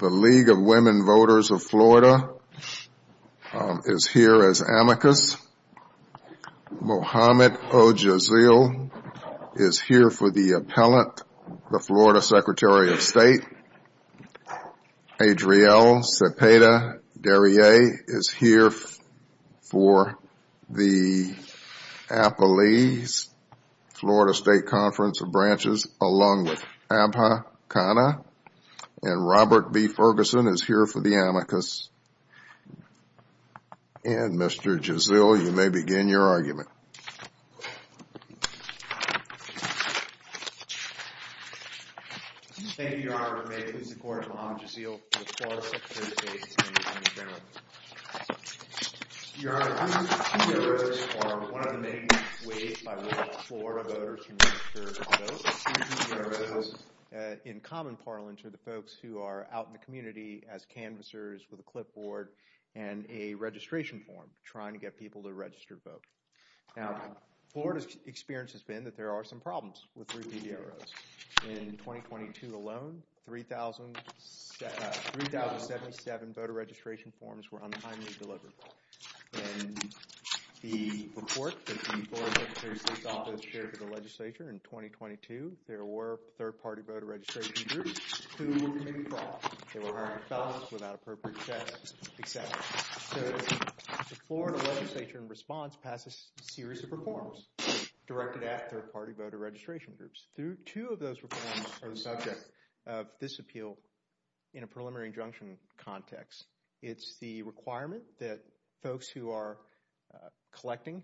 The League of Women Voters of Florida is here as amicus, Mohamed Ojaziel is here for the appellant, the Florida Secretary of State, Adrielle Cepeda-Derriere is here for the appellees, Florida State Conference of Branches along with Abha Khanna, and Robert B. Ferguson is here for the amicus, and Mr. Ojaziel, you may begin your argument. Thank you, Your Honor. May it please the court, Mohamed Ojaziel for the Florida Secretary of State and the Attorney General. Your Honor, these two bureaus are one of the many ways by which Florida voters can register to vote. These two bureaus, in common parlance, are the folks who are out in the community as canvassers with a clipboard and a registration form trying to get people to register to vote. Now, Florida's experience has been that there are some problems with three PDROs. In 2022 alone, 3,077 voter registration forms were untimely delivered. In the report that the Florida Secretary of State's office shared with the legislature in 2022, there were third-party voter registration groups who were committed to that. They were hiring fellows without appropriate checks, et cetera. So the Florida legislature, in response, passed a series of reforms directed at third-party voter registration groups. Two of those reforms are the subject of this appeal in a preliminary injunction context. It's the requirement that folks who are collecting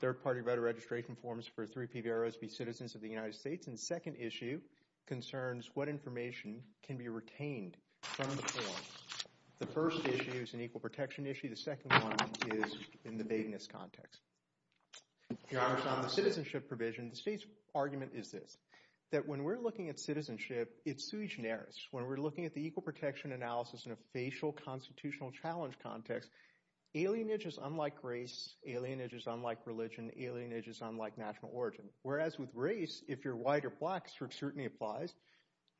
third-party voter registration forms for three PDROs be citizens of the United States. Now, the state's second issue concerns what information can be retained from the form. The first issue is an equal protection issue. The second one is in the vagueness context. Your Honor, on the citizenship provision, the state's argument is this, that when we're looking at citizenship, it's sui generis. When we're looking at the equal protection analysis in a facial constitutional challenge context, alienage is unlike race, alienage is unlike religion, alienage is unlike national origin. Whereas with race, if you're white or black, strict scrutiny applies.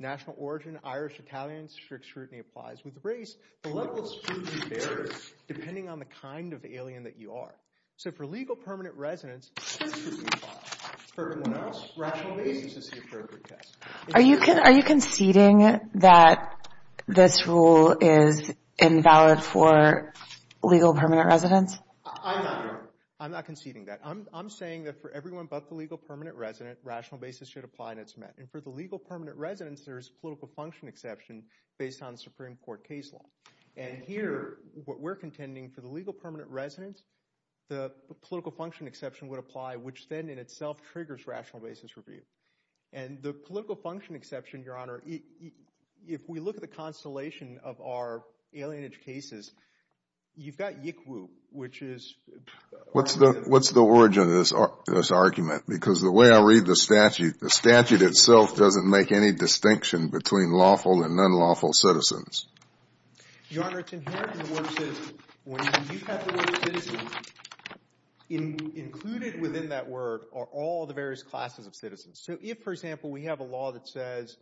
National origin, Irish, Italian, strict scrutiny applies. With race, the level of scrutiny varies depending on the kind of alien that you are. So for legal permanent residents, strict scrutiny applies. For everyone else, rational basis is the appropriate test. Are you conceding that this rule is invalid for legal permanent residents? I'm not conceding that. I'm saying that for everyone but the legal permanent resident, rational basis should apply and it's met. And for the legal permanent residents, there's political function exception based on Supreme Court case law. And here, what we're contending for the legal permanent residents, the political function exception would apply, which then in itself triggers rational basis review. And the political function exception, Your Honor, if we look at the constellation of our alienage cases, you've got Yikwu, which is... Your Honor, it's inherent in the works that when you have the word citizen, included within that word are all the various classes of citizens. So if, for example, we have a law that says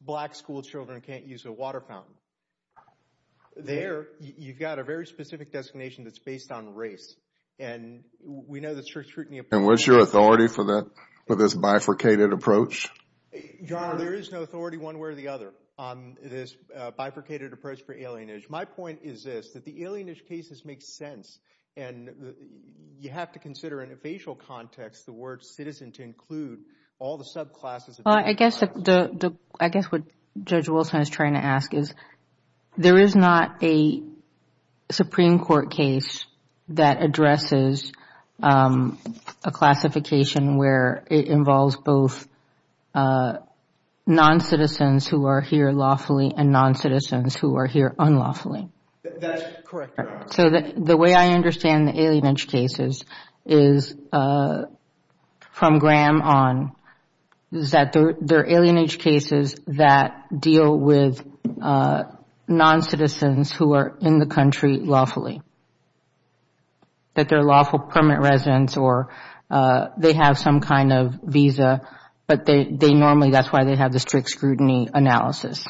black school children can't use a water fountain, there you've got a very specific designation that's based on race. And we know that strict scrutiny... And what's your authority for this bifurcated approach? Your Honor, there is no authority one way or the other on this bifurcated approach for alienage. My point is this, that the alienage cases make sense and you have to consider in a facial context the word citizen to include all the subclasses of... Well, I guess what Judge Wilson is trying to ask is there is not a Supreme Court case that addresses a classification where it involves both non-citizens who are here lawfully and non-citizens who are here unlawfully. That's correct, Your Honor. So the way I understand the alienage cases is, from Graham on, is that they're alienage cases that deal with non-citizens who are in the country lawfully. That they're lawful permanent residents or they have some kind of visa, but they normally, that's why they have the strict scrutiny analysis.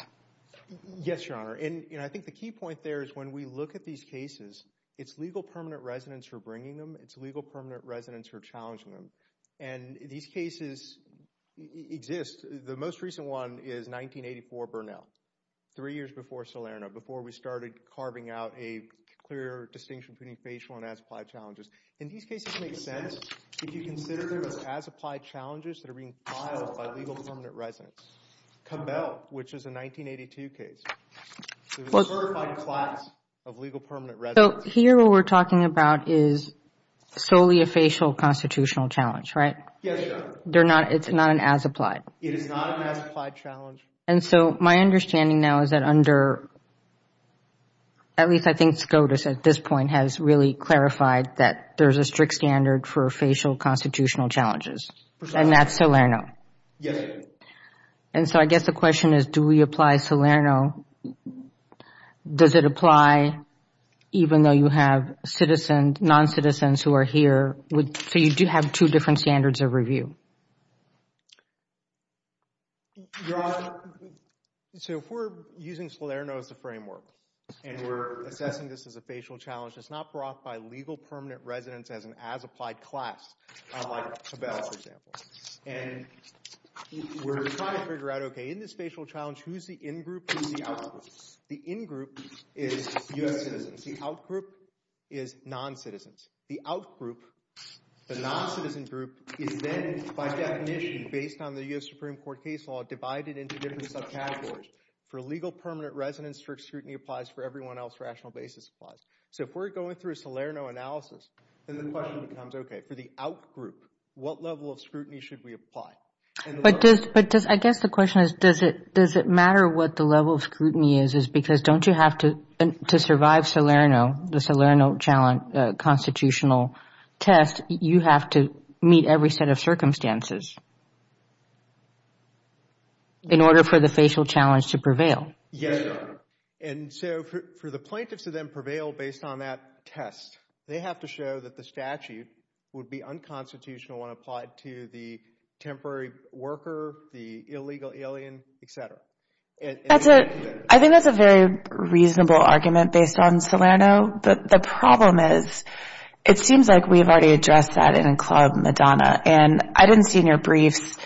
Yes, Your Honor. And I think the key point there is when we look at these cases, it's legal permanent residents who are bringing them. It's legal permanent residents who are challenging them. And these cases exist. The most recent one is 1984 Burnell, three years before Salerno, before we started carving out a clear distinction between facial and as-applied challenges. In these cases, it makes sense if you consider those as-applied challenges that are being filed by legal permanent residents. Cabell, which is a 1982 case, was a certified class of legal permanent residents. So here what we're talking about is solely a facial constitutional challenge, right? Yes, Your Honor. It's not an as-applied? It is not an as-applied challenge. And so my understanding now is that under, at least I think SCOTUS at this point has really clarified that there's a strict standard for facial constitutional challenges. Precisely. And that's Salerno. Yes, Your Honor. And so I guess the question is, do we apply Salerno? Does it apply even though you have citizens, non-citizens who are here? So you do have two different standards of review? Your Honor, so if we're using Salerno as the framework and we're assessing this as a facial challenge, it's not brought by legal permanent residents as an as-applied class, like Cabell, for example. And we're trying to figure out, okay, in this facial challenge, who's the in-group and who's the out-group? The in-group is U.S. citizens. The out-group is non-citizens. The out-group, the non-citizen group, is then, by definition, based on the U.S. Supreme Court case law, divided into different subcategories. For legal permanent residents, strict scrutiny applies. For everyone else, rational basis applies. So if we're going through a Salerno analysis, then the question becomes, okay, for the out-group, what level of scrutiny should we apply? But does, I guess the question is, does it matter what the level of scrutiny is? Because don't you have to, to survive Salerno, the Salerno constitutional test, you have to meet every set of circumstances in order for the facial challenge to prevail? Yes, Your Honor. And so for the plaintiffs to then prevail based on that test, they have to show that the statute would be unconstitutional when applied to the temporary worker, the illegal alien, et cetera. I think that's a very reasonable argument based on Salerno. The problem is, it seems like we've already addressed that in Club Madonna. And I didn't see in your briefs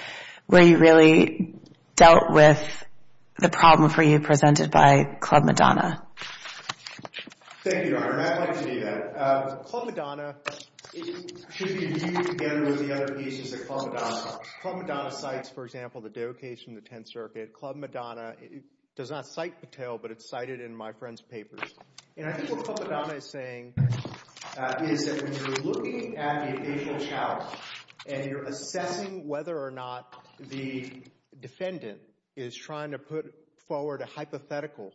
where you really dealt with the problem for you presented by Club Madonna. Thank you, Your Honor, and I'd like to do that. Club Madonna should be viewed together with the other pieces of Club Madonna. Club Madonna cites, for example, the Doe case from the Tenth Circuit. Club Madonna does not cite Patel, but it's cited in my friend's papers. And I think what Club Madonna is saying is that when you're looking at the official challenge and you're assessing whether or not the defendant is trying to put forward a hypothetical,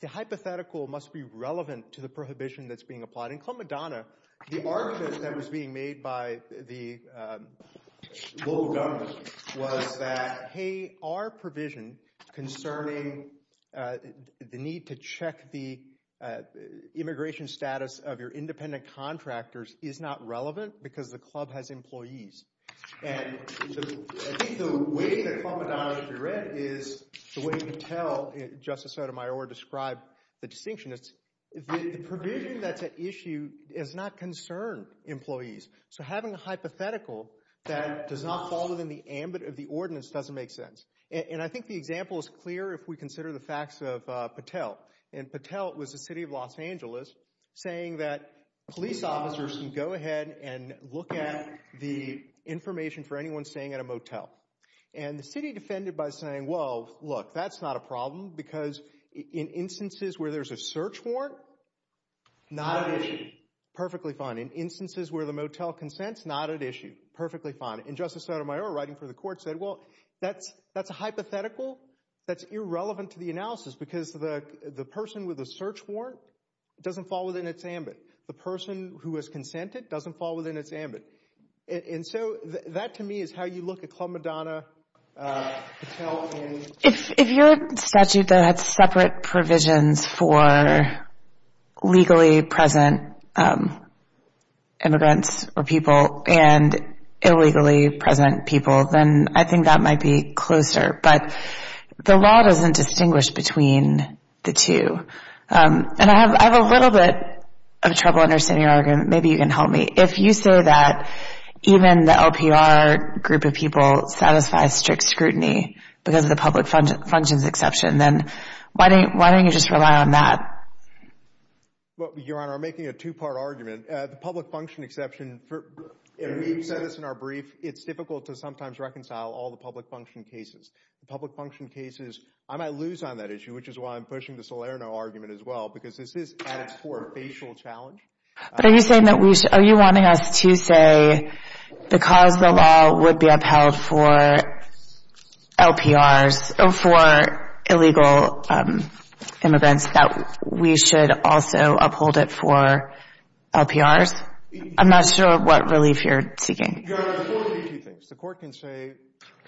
the hypothetical must be relevant to the prohibition that's being applied. And in Club Madonna, the argument that was being made by the local government was that, hey, our provision concerning the need to check the immigration status of your independent contractors is not relevant because the club has employees. And I think the way that Club Madonna should be read is the way Patel, Justice Sotomayor, described the distinction. It's the provision that's at issue does not concern employees. So having a hypothetical that does not fall within the ambit of the ordinance doesn't make sense. And I think the example is clear if we consider the facts of Patel. And Patel was the city of Los Angeles saying that police officers can go ahead and look at the information for anyone staying at a motel. And the city defended by saying, well, look, that's not a problem because in instances where there's a search warrant, not at issue. Perfectly fine. In instances where the motel consents, not at issue. Perfectly fine. And Justice Sotomayor, writing for the court, said, well, that's a hypothetical. That's irrelevant to the analysis because the person with the search warrant doesn't fall within its ambit. The person who has consented doesn't fall within its ambit. And so that to me is how you look at Club Madonna, Patel. If your statute had separate provisions for legally present immigrants or people and illegally present people, then I think that might be closer. But the law doesn't distinguish between the two. And I have a little bit of trouble understanding your argument. Maybe you can help me. If you say that even the LPR group of people satisfy strict scrutiny because of the public functions exception, then why don't you just rely on that? Your Honor, I'm making a two-part argument. The public function exception, you said this in our brief, it's difficult to sometimes reconcile all the public function cases. The public function cases, I might lose on that issue, which is why I'm pushing the Salerno argument as well, because this is at its core a facial challenge. But are you saying that we should – are you wanting us to say because the law would be upheld for LPRs, for illegal immigrants, that we should also uphold it for LPRs? I'm not sure what relief you're seeking. Your Honor, the court can do two things. The court can say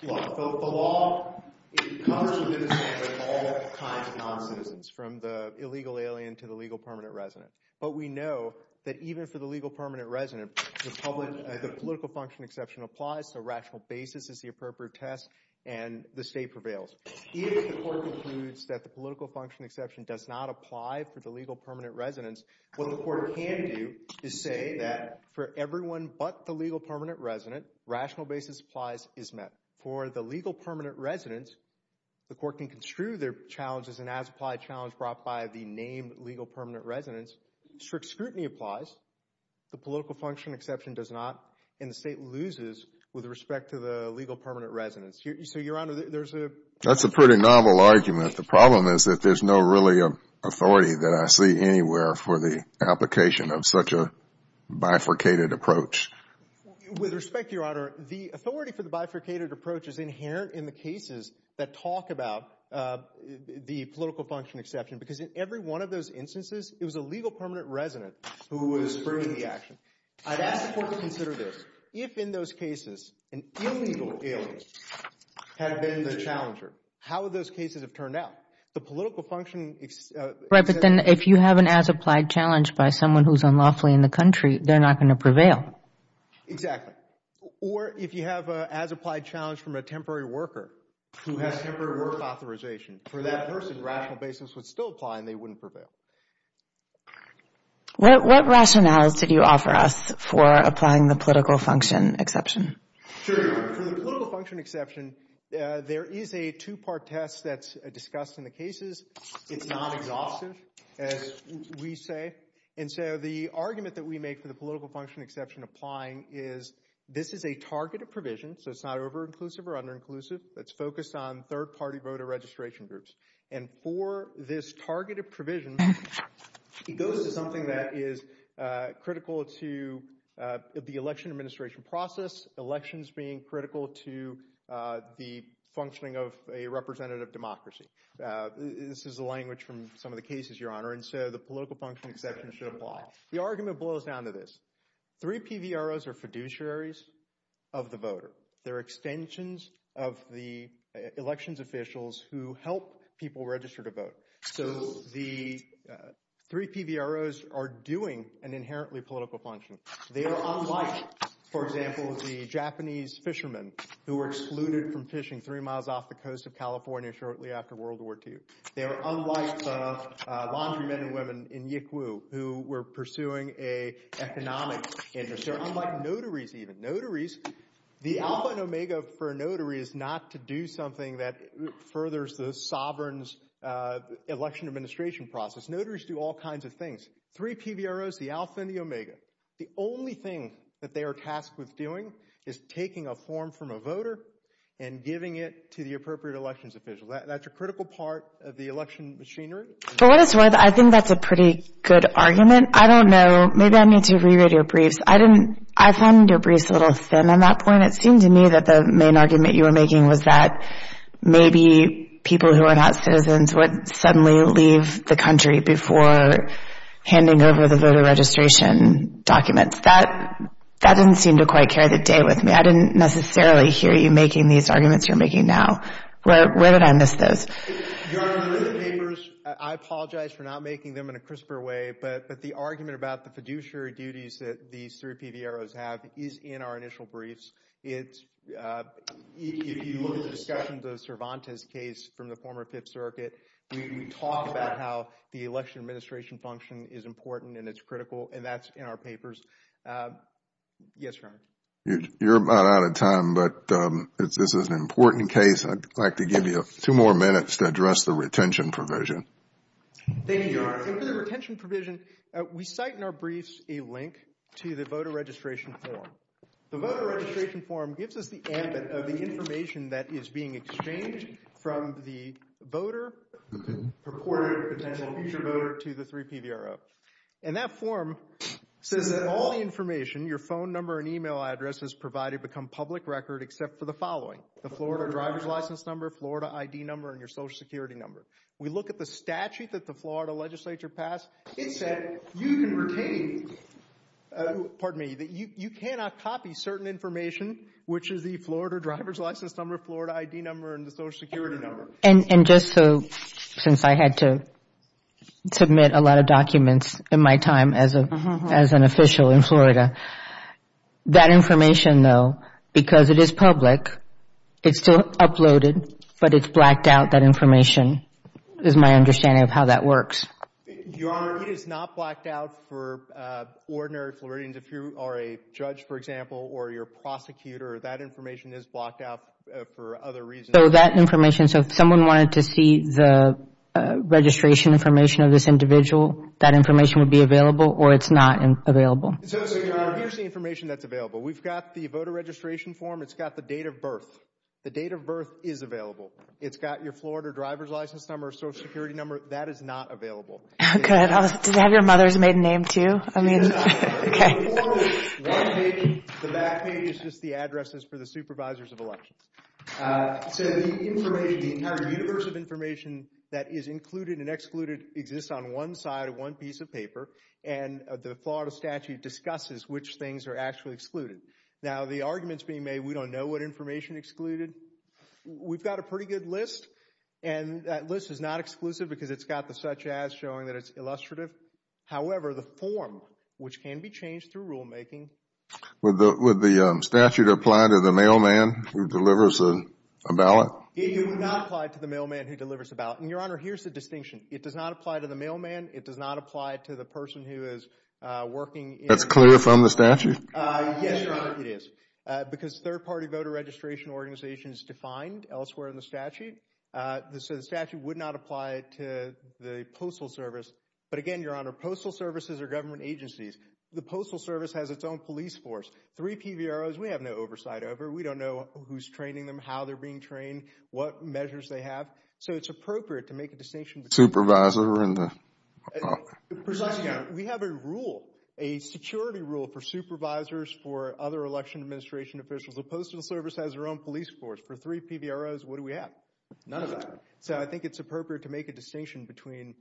the law. Well, it's constantly the same with all kinds of noncitizens, from the illegal alien to the legal permanent resident. But we know that even for the legal permanent resident, the public – the political function exception applies, so rational basis is the appropriate test, and the state prevails. If the court concludes that the political function exception does not apply for the legal permanent residents, what the court can do is say that for everyone but the legal permanent resident, rational basis applies, is met. For the legal permanent residents, the court can construe their challenge as an as-applied challenge brought by the named legal permanent residents. Strict scrutiny applies. The political function exception does not, and the state loses with respect to the legal permanent residents. So, Your Honor, there's a – That's a pretty novel argument. The problem is that there's no really authority that I see anywhere for the application of such a bifurcated approach. With respect, Your Honor, the authority for the bifurcated approach is inherent in the cases that talk about the political function exception because in every one of those instances, it was a legal permanent resident who was bringing the action. I'd ask the court to consider this. If in those cases an illegal alien had been the challenger, how would those cases have turned out? The political function – Right, but then if you have an as-applied challenge by someone who's unlawfully in the country, they're not going to prevail. Exactly. Or if you have an as-applied challenge from a temporary worker who has temporary work authorization, for that person, rational basis would still apply and they wouldn't prevail. What rationales did you offer us for applying the political function exception? For the political function exception, there is a two-part test that's discussed in the cases. It's not exhaustive, as we say. And so the argument that we make for the political function exception applying is this is a targeted provision, so it's not over-inclusive or under-inclusive. It's focused on third-party voter registration groups. And for this targeted provision, it goes to something that is critical to the election administration process, elections being critical to the functioning of a representative democracy. This is the language from some of the cases, Your Honor, and so the political function exception should apply. The argument boils down to this. Three PVROs are fiduciaries of the voter. They're extensions of the elections officials who help people register to vote. So the three PVROs are doing an inherently political function. They are unlike, for example, the Japanese fishermen who were excluded from fishing three miles off the coast of California shortly after World War II. They are unlike the laundry men and women in Yikwu who were pursuing an economic interest. They're unlike notaries even. Notaries, the alpha and omega for a notary is not to do something that furthers the sovereign's election administration process. Notaries do all kinds of things. Three PVROs, the alpha and the omega. The only thing that they are tasked with doing is taking a form from a voter and giving it to the appropriate elections official. That's a critical part of the election machinery. For what it's worth, I think that's a pretty good argument. I don't know. Maybe I need to re-read your briefs. I found your briefs a little thin on that point. It seemed to me that the main argument you were making was that maybe people who are not citizens would suddenly leave the country before handing over the voter registration documents. That didn't seem to quite carry the day with me. I didn't necessarily hear you making these arguments you're making now. Where did I miss those? Your Honor, in the papers, I apologize for not making them in a crisper way, but the argument about the fiduciary duties that these three PVROs have is in our initial briefs. If you look at the discussions of Cervantes' case from the former Fifth Circuit, we talk about how the election administration function is important and it's critical, and that's in our papers. Yes, Your Honor. You're about out of time, but this is an important case. I'd like to give you two more minutes to address the retention provision. Thank you, Your Honor. For the retention provision, we cite in our briefs a link to the voter registration form. The voter registration form gives us the ambit of the information that is being exchanged from the voter, purported potential future voter, to the three PVRO. And that form says that all the information, your phone number and email address, is provided become public record except for the following. The Florida driver's license number, Florida ID number, and your Social Security number. We look at the statute that the Florida legislature passed. It said you can retain, pardon me, that you cannot copy certain information, which is the Florida driver's license number, Florida ID number, and the Social Security number. And just so, since I had to submit a lot of documents in my time as an official in Florida, that information, though, because it is public, it's still uploaded, but it's blacked out, that information, is my understanding of how that works. Your Honor, it is not blacked out for ordinary Floridians. If you are a judge, for example, or you're a prosecutor, that information is blacked out for other reasons. So that information, so if someone wanted to see the registration information of this individual, that information would be available, or it's not available? So, Your Honor, here's the information that's available. We've got the voter registration form. It's got the date of birth. The date of birth is available. It's got your Florida driver's license number, Social Security number. That is not available. Good. Does it have your mother's maiden name, too? I mean, okay. The back page is just the addresses for the supervisors of elections. So the information, the entire universe of information that is included and excluded exists on one side of one piece of paper, and the Florida statute discusses which things are actually excluded. Now, the arguments being made, we don't know what information excluded. We've got a pretty good list, and that list is not exclusive because it's got the such as showing that it's illustrative. However, the form, which can be changed through rulemaking. Would the statute apply to the mailman who delivers a ballot? It would not apply to the mailman who delivers a ballot. And, Your Honor, here's the distinction. It does not apply to the mailman. It does not apply to the person who is working. That's clear from the statute? Yes, Your Honor, it is, because third-party voter registration organization is defined elsewhere in the statute. So the statute would not apply to the Postal Service. But, again, Your Honor, Postal Services are government agencies. The Postal Service has its own police force. Three PVROs, we have no oversight over. We don't know who's training them, how they're being trained, what measures they have. So it's appropriate to make a distinction. Supervisor? Precisely, Your Honor, we have a rule, a security rule for supervisors, for other election administration officials. The Postal Service has their own police force. For three PVROs, what do we have? None of that. So I think it's appropriate to make a distinction between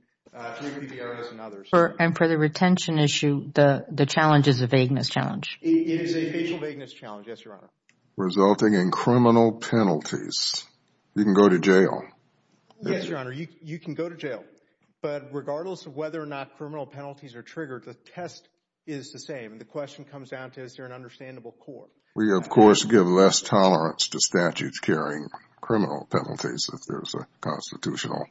three PVROs and others. And for the retention issue, the challenge is a vagueness challenge. It is a facial vagueness challenge, yes, Your Honor. Resulting in criminal penalties. You can go to jail. Yes, Your Honor, you can go to jail. But regardless of whether or not criminal penalties are triggered, the test is the same. The question comes down to is there an understandable court? We, of course, give less tolerance to statutes carrying criminal penalties if there's a constitutional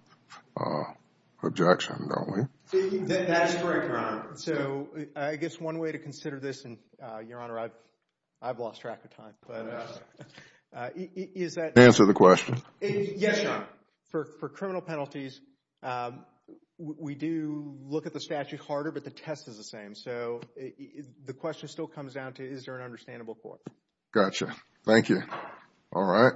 objection, don't we? That's correct, Your Honor. So I guess one way to consider this, and Your Honor, I've lost track of time. Answer the question. Yes, Your Honor. For criminal penalties, we do look at the statute harder, but the test is the same. And so the question still comes down to is there an understandable court? Gotcha. Thank you. All right.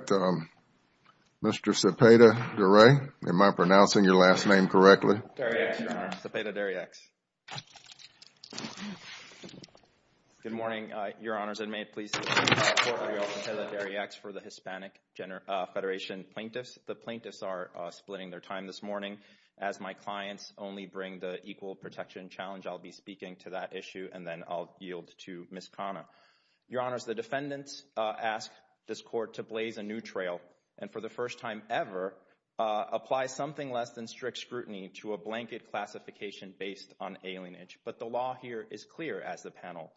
Mr. Cepeda-Duray, am I pronouncing your last name correctly? Cepeda-Duray, Your Honor. Cepeda Duray-X. Good morning, Your Honors. And may it please the Court for Your Honor. Cepeda Duray-X for the Hispanic Federation Plaintiffs. The plaintiffs are splitting their time this morning. As my clients only bring the equal protection challenge, I'll be speaking to that issue, and then I'll yield to Ms. Khanna. Your Honors, the defendants ask this Court to blaze a new trail and, for the first time ever, apply something less than strict scrutiny to a blanket classification based on alienage. But the law here is clear, as the panel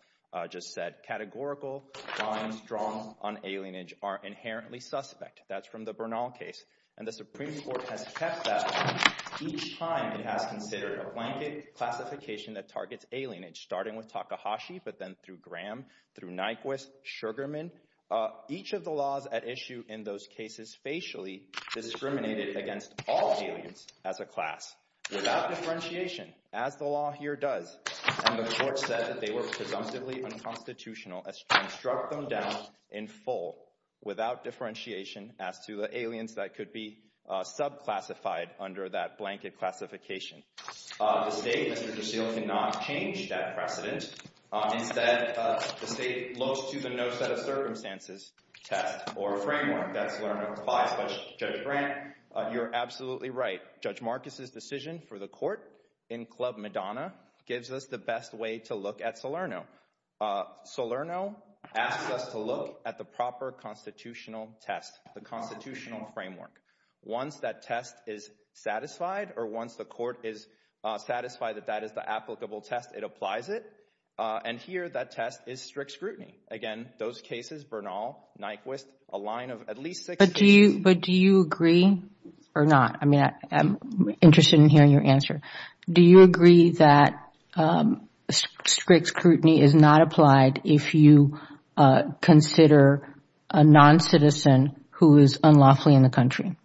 just said. Categorical crimes drawn on alienage are inherently suspect. That's from the Bernal case. And the Supreme Court has kept that one each time it has considered a blanket classification that targets alienage, starting with Takahashi but then through Graham, through Nyquist, Sugarman. Each of the laws at issue in those cases facially discriminated against all aliens as a class, without differentiation, as the law here does. And the Court said that they were presumptively unconstitutional and struck them down in full, without differentiation, as to the aliens that could be subclassified under that blanket classification. The State, Mr. Drusil, cannot change that precedent. Instead, the State looks to the no set of circumstances test or framework that's learned applies. But, Judge Brandt, you're absolutely right. Judge Marcus's decision for the Court in Club Madonna gives us the best way to look at Salerno. Salerno asks us to look at the proper constitutional test, the constitutional framework. Once that test is satisfied or once the Court is satisfied that that is the applicable test, it applies it. And here, that test is strict scrutiny. Again, those cases, Bernal, Nyquist, a line of at least six— But do you agree or not? I mean, I'm interested in hearing your answer. Do you agree that strict scrutiny is not applied if you consider a noncitizen who is unlawfully in the country?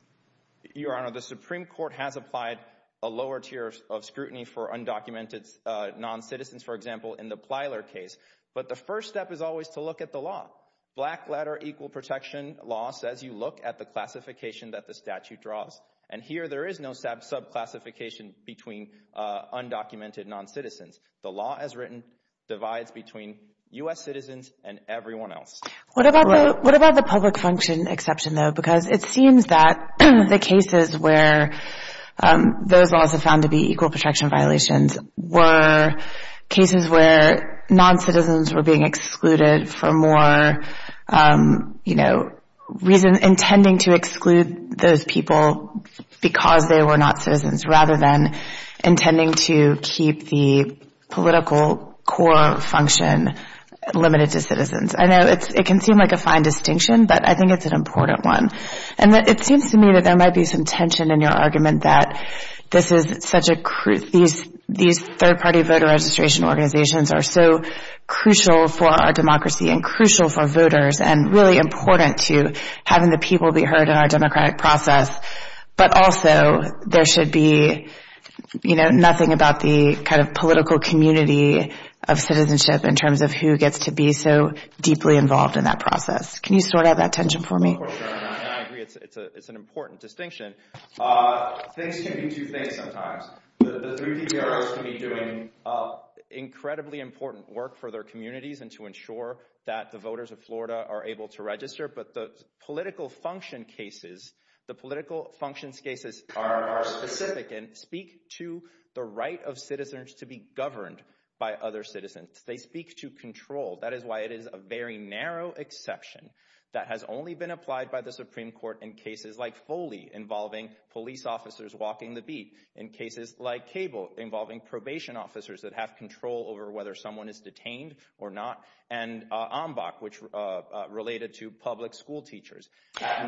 Your Honor, the Supreme Court has applied a lower tier of scrutiny for undocumented noncitizens, for example, in the Plyler case. But the first step is always to look at the law. Black letter equal protection law says you look at the classification that the statute draws. And here, there is no subclassification between undocumented noncitizens. The law as written divides between U.S. citizens and everyone else. What about the public function exception, though? Because it seems that the cases where those laws are found to be equal protection violations were cases where noncitizens were being excluded for more reason, intending to exclude those people because they were not citizens, rather than intending to keep the political core function limited to citizens. I know it can seem like a fine distinction, but I think it's an important one. It seems to me that there might be some tension in your argument that these third-party voter registration organizations are so crucial for our democracy and crucial for voters and really important to having the people be heard in our democratic process. But also, there should be nothing about the political community of citizenship in terms of who gets to be so deeply involved in that process. Can you sort out that tension for me? I agree. It's an important distinction. Things can be two things sometimes. The three DPROs can be doing incredibly important work for their communities and to ensure that the voters of Florida are able to register. But the political function cases, the political functions cases are specific and speak to the right of citizens to be governed by other citizens. They speak to control. That is why it is a very narrow exception that has only been applied by the Supreme Court in cases like Foley involving police officers walking the beat, in cases like Cable involving probation officers that have control over whether someone is detained or not, and Ombak, which related to public school teachers.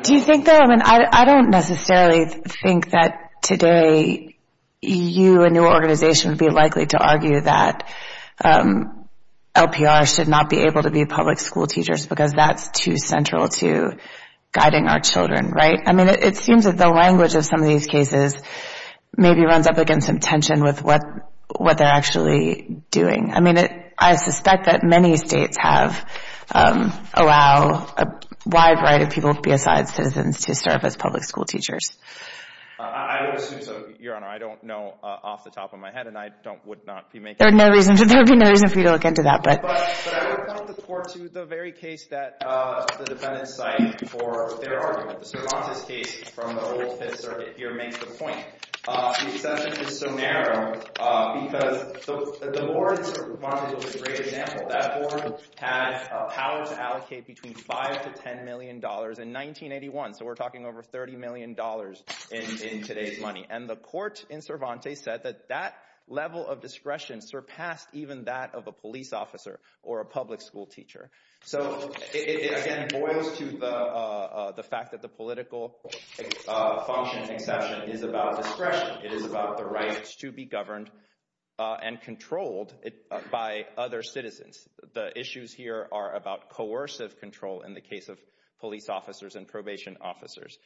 Do you think, though, I mean, I don't necessarily think that today you and your organization would be likely to argue that LPR should not be able to be public school teachers because that's too central to guiding our children, right? I mean, it seems that the language of some of these cases maybe runs up against some tension with what they're actually doing. I mean, I suspect that many states allow a wide variety of people to be assigned citizens to serve as public school teachers. I would assume so, Your Honor. I don't know off the top of my head, and I would not be making that argument. There would be no reason for you to look into that. But I would point the court to the very case that the defendants cite for their argument. The Cervantes case from the old Fifth Circuit here makes the point. The exception is so narrow because the board of Cervantes was a great example. That board had a power to allocate between $5 million to $10 million in 1981. So we're talking over $30 million in today's money. And the court in Cervantes said that that level of discretion surpassed even that of a police officer or a public school teacher. So it again boils to the fact that the political function and exception is about discretion. It is about the rights to be governed and controlled by other citizens. The issues here are about coercive control in the case of police officers and probation officers.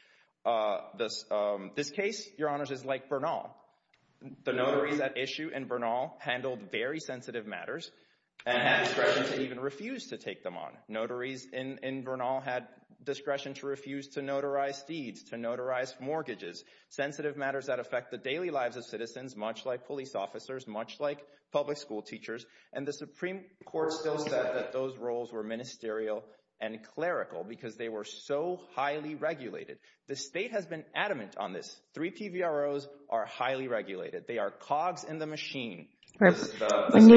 This case, Your Honors, is like Bernal. The notaries at issue in Bernal handled very sensitive matters and had discretion to even refuse to take them on. Notaries in Bernal had discretion to refuse to notarize deeds, to notarize mortgages, sensitive matters that affect the daily lives of citizens, much like police officers, much like public school teachers. And the Supreme Court still said that those roles were ministerial and clerical because they were so highly regulated. The state has been adamant on this. Three PVROs are highly regulated. They are cogs in the machine. When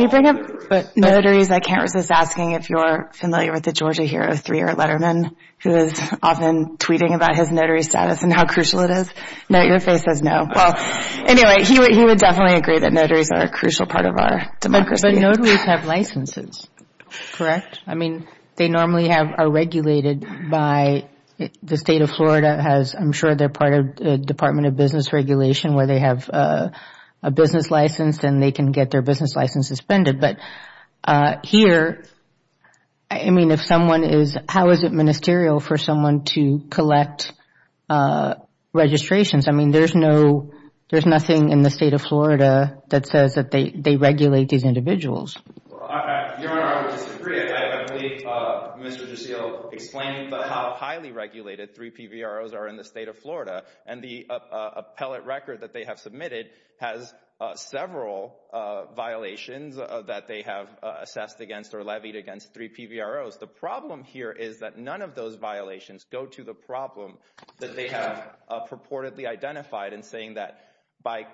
you bring up notaries, I can't resist asking if you're familiar with the Georgia Hero 3 or Letterman, who is often tweeting about his notary status and how crucial it is. No, your face says no. Well, anyway, he would definitely agree that notaries are a crucial part of our democracy. But notaries have licenses, correct? I mean, they normally are regulated by the State of Florida. I'm sure they're part of the Department of Business Regulation where they have a business license and they can get their business license suspended. But here, I mean, how is it ministerial for someone to collect registrations? I mean, there's nothing in the State of Florida that says that they regulate these individuals. Your Honor, I would disagree. I believe Mr. Gissel explained how highly regulated three PVROs are in the State of Florida. And the appellate record that they have submitted has several violations that they have assessed against or levied against three PVROs. The problem here is that none of those violations go to the problem that they have purportedly identified in saying that by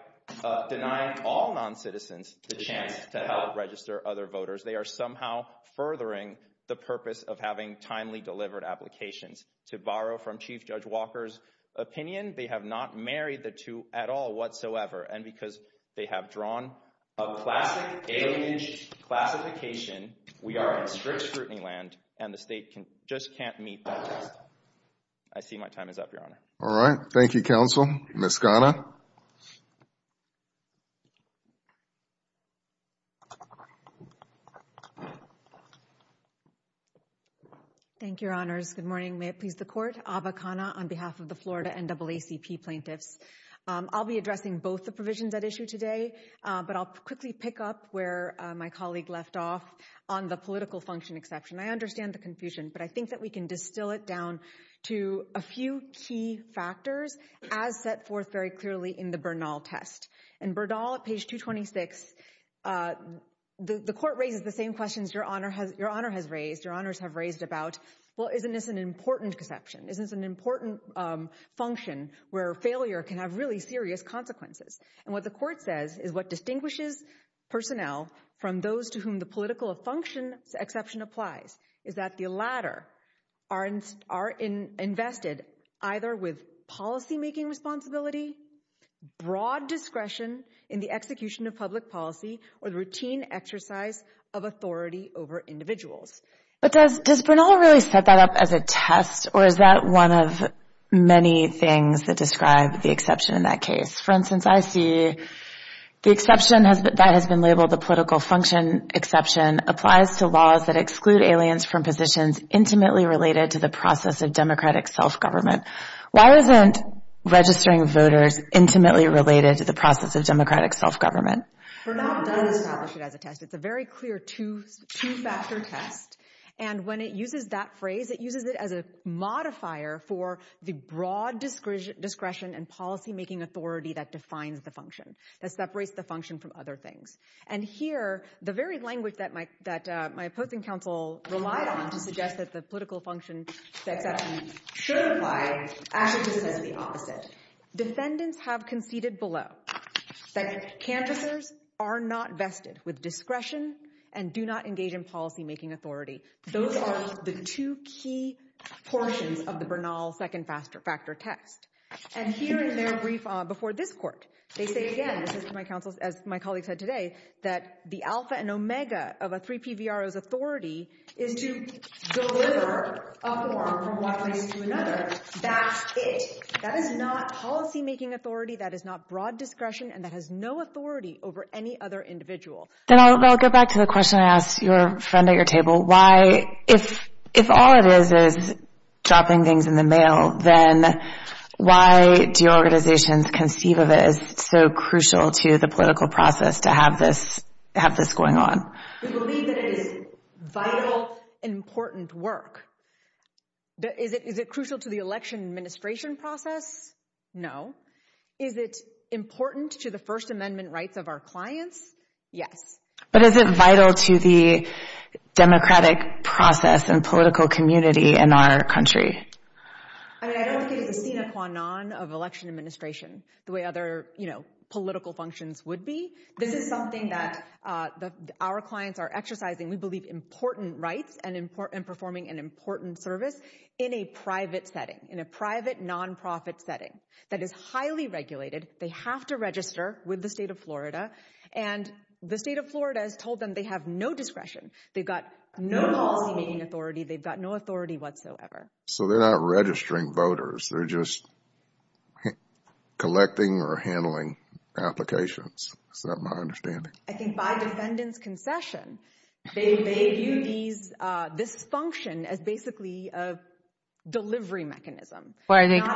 denying all noncitizens the chance to help register other voters, they are somehow furthering the purpose of having timely delivered applications. To borrow from Chief Judge Walker's opinion, they have not married the two at all whatsoever. And because they have drawn a classic alienage classification, we are in strict scrutiny land and the State just can't meet that test. I see my time is up, Your Honor. All right. Thank you, Counsel. Ms. Khanna. Thank you, Your Honors. Good morning. May it please the Court. Ava Khanna on behalf of the Florida NAACP plaintiffs. I'll be addressing both the provisions at issue today, but I'll quickly pick up where my colleague left off on the political function exception. I understand the confusion, but I think that we can distill it down to a few key factors as set forth very clearly in the Bernal test. In Bernal, at page 226, the Court raises the same questions Your Honor has raised. Your Honors have raised about, well, isn't this an important conception? It can have really serious consequences. And what the Court says is what distinguishes personnel from those to whom the political function exception applies is that the latter are invested either with policymaking responsibility, broad discretion in the execution of public policy, or the routine exercise of authority over individuals. But does Bernal really set that up as a test, or is that one of many things that describe the exception in that case? For instance, I see the exception that has been labeled the political function exception applies to laws that exclude aliens from positions intimately related to the process of democratic self-government. Why isn't registering voters intimately related to the process of democratic self-government? Bernal does establish it as a test. It's a very clear two-factor test. And when it uses that phrase, it uses it as a modifier for the broad discretion and policymaking authority that defines the function, that separates the function from other things. And here, the very language that my opposing counsel relied on to suggest that the political function exception should apply actually just says the opposite. Defendants have conceded below that canvassers are not vested with discretion and do not engage in policymaking authority. Those are the two key portions of the Bernal second-factor test. And here in their brief before this court, they say again, as my colleague said today, that the alpha and omega of a 3PVRO's authority is to deliver a form from one place to another. That's it. That is not policymaking authority. That is not broad discretion. And that has no authority over any other individual. Then I'll go back to the question I asked your friend at your table. Why, if all it is is dropping things in the mail, then why do your organizations conceive of it as so crucial to the political process to have this going on? We believe that it is vital, important work. Is it crucial to the election administration process? No. Is it important to the First Amendment rights of our clients? Yes. But is it vital to the democratic process and political community in our country? I don't think it's the sine qua non of election administration the way other political functions would be. This is something that our clients are exercising, we believe, important rights and performing an important service in a private setting, in a private nonprofit setting that is highly regulated. They have to register with the state of Florida. And the state of Florida has told them they have no discretion. They've got no policymaking authority. They've got no authority whatsoever. So they're not registering voters, they're just collecting or handling applications. Is that my understanding? I think by defendant's concession, they view this function as basically a delivery mechanism. But the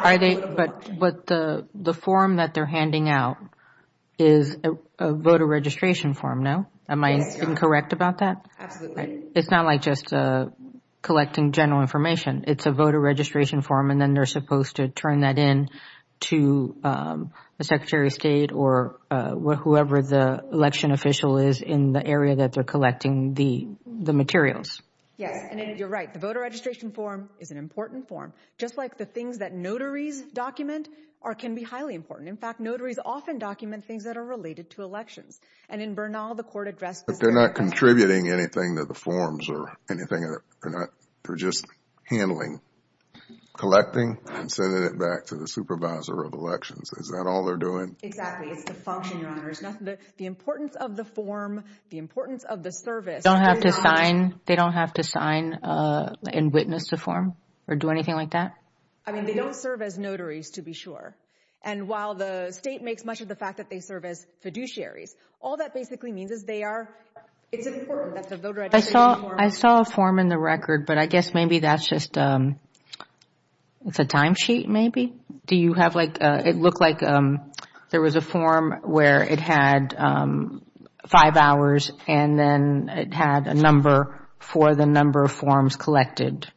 form that they're handing out is a voter registration form, no? Am I incorrect about that? Absolutely. It's not like just collecting general information. It's a voter registration form, and then they're supposed to turn that in to the Secretary of State or whoever the election official is in the area that they're collecting the materials. Yes, and you're right. The voter registration form is an important form, just like the things that notaries document can be highly important. In fact, notaries often document things that are related to elections. And in Bernal, the court addressed this. They're not contributing anything to the forms or anything. They're just handling, collecting, and sending it back to the supervisor of elections. Is that all they're doing? Exactly. It's the function, Your Honor. The importance of the form, the importance of the service. They don't have to sign and witness the form or do anything like that? I mean, they don't serve as notaries, to be sure. And while the state makes much of the fact that they serve as fiduciaries, all that basically means is they are—it's important that the voter registration form— I saw a form in the record, but I guess maybe that's just—it's a timesheet, maybe? Do you have like—it looked like there was a form where it had five hours and then it had a number for the number of forms collected.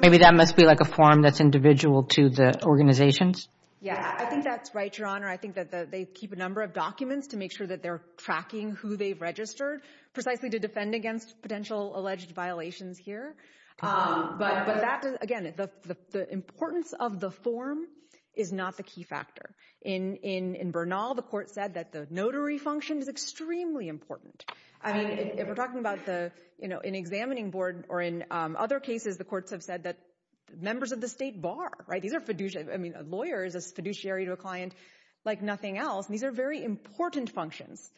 Maybe that must be like a form that's individual to the organizations? Yeah, I think that's right, Your Honor. I think that they keep a number of documents to make sure that they're tracking who they've registered precisely to defend against potential alleged violations here. But that—again, the importance of the form is not the key factor. In Bernal, the court said that the notary function is extremely important. I mean, if we're talking about the—in examining board or in other cases, the courts have said that members of the state bar, right? These are fiduciary—I mean, a lawyer is a fiduciary to a client like nothing else, and these are very important functions.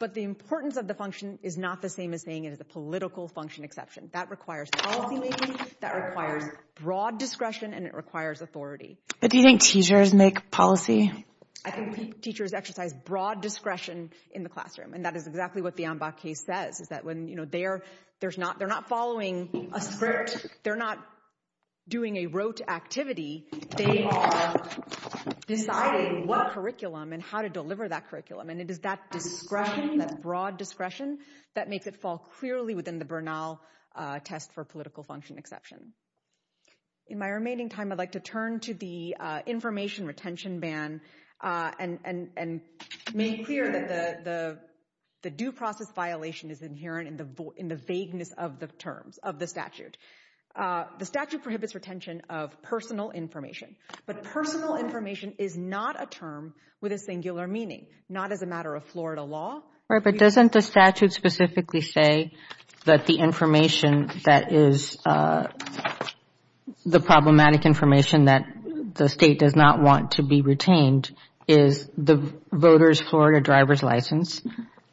But the importance of the function is not the same as saying it is a political function exception. That requires policymaking, that requires broad discretion, and it requires authority. But do you think teachers make policy? I think teachers exercise broad discretion in the classroom, and that is exactly what the Ambach case says, is that when, you know, they're not following a script, they're not doing a rote activity. They are deciding what curriculum and how to deliver that curriculum, and it is that discretion, that broad discretion, that makes it fall clearly within the Bernal test for political function exception. In my remaining time, I'd like to turn to the information retention ban and make clear that the due process violation is inherent in the vagueness of the terms of the statute. The statute prohibits retention of personal information, but personal information is not a term with a singular meaning, not as a matter of Florida law. Right, but doesn't the statute specifically say that the information that is the problematic information that the state does not want to be retained is the voter's Florida driver's license,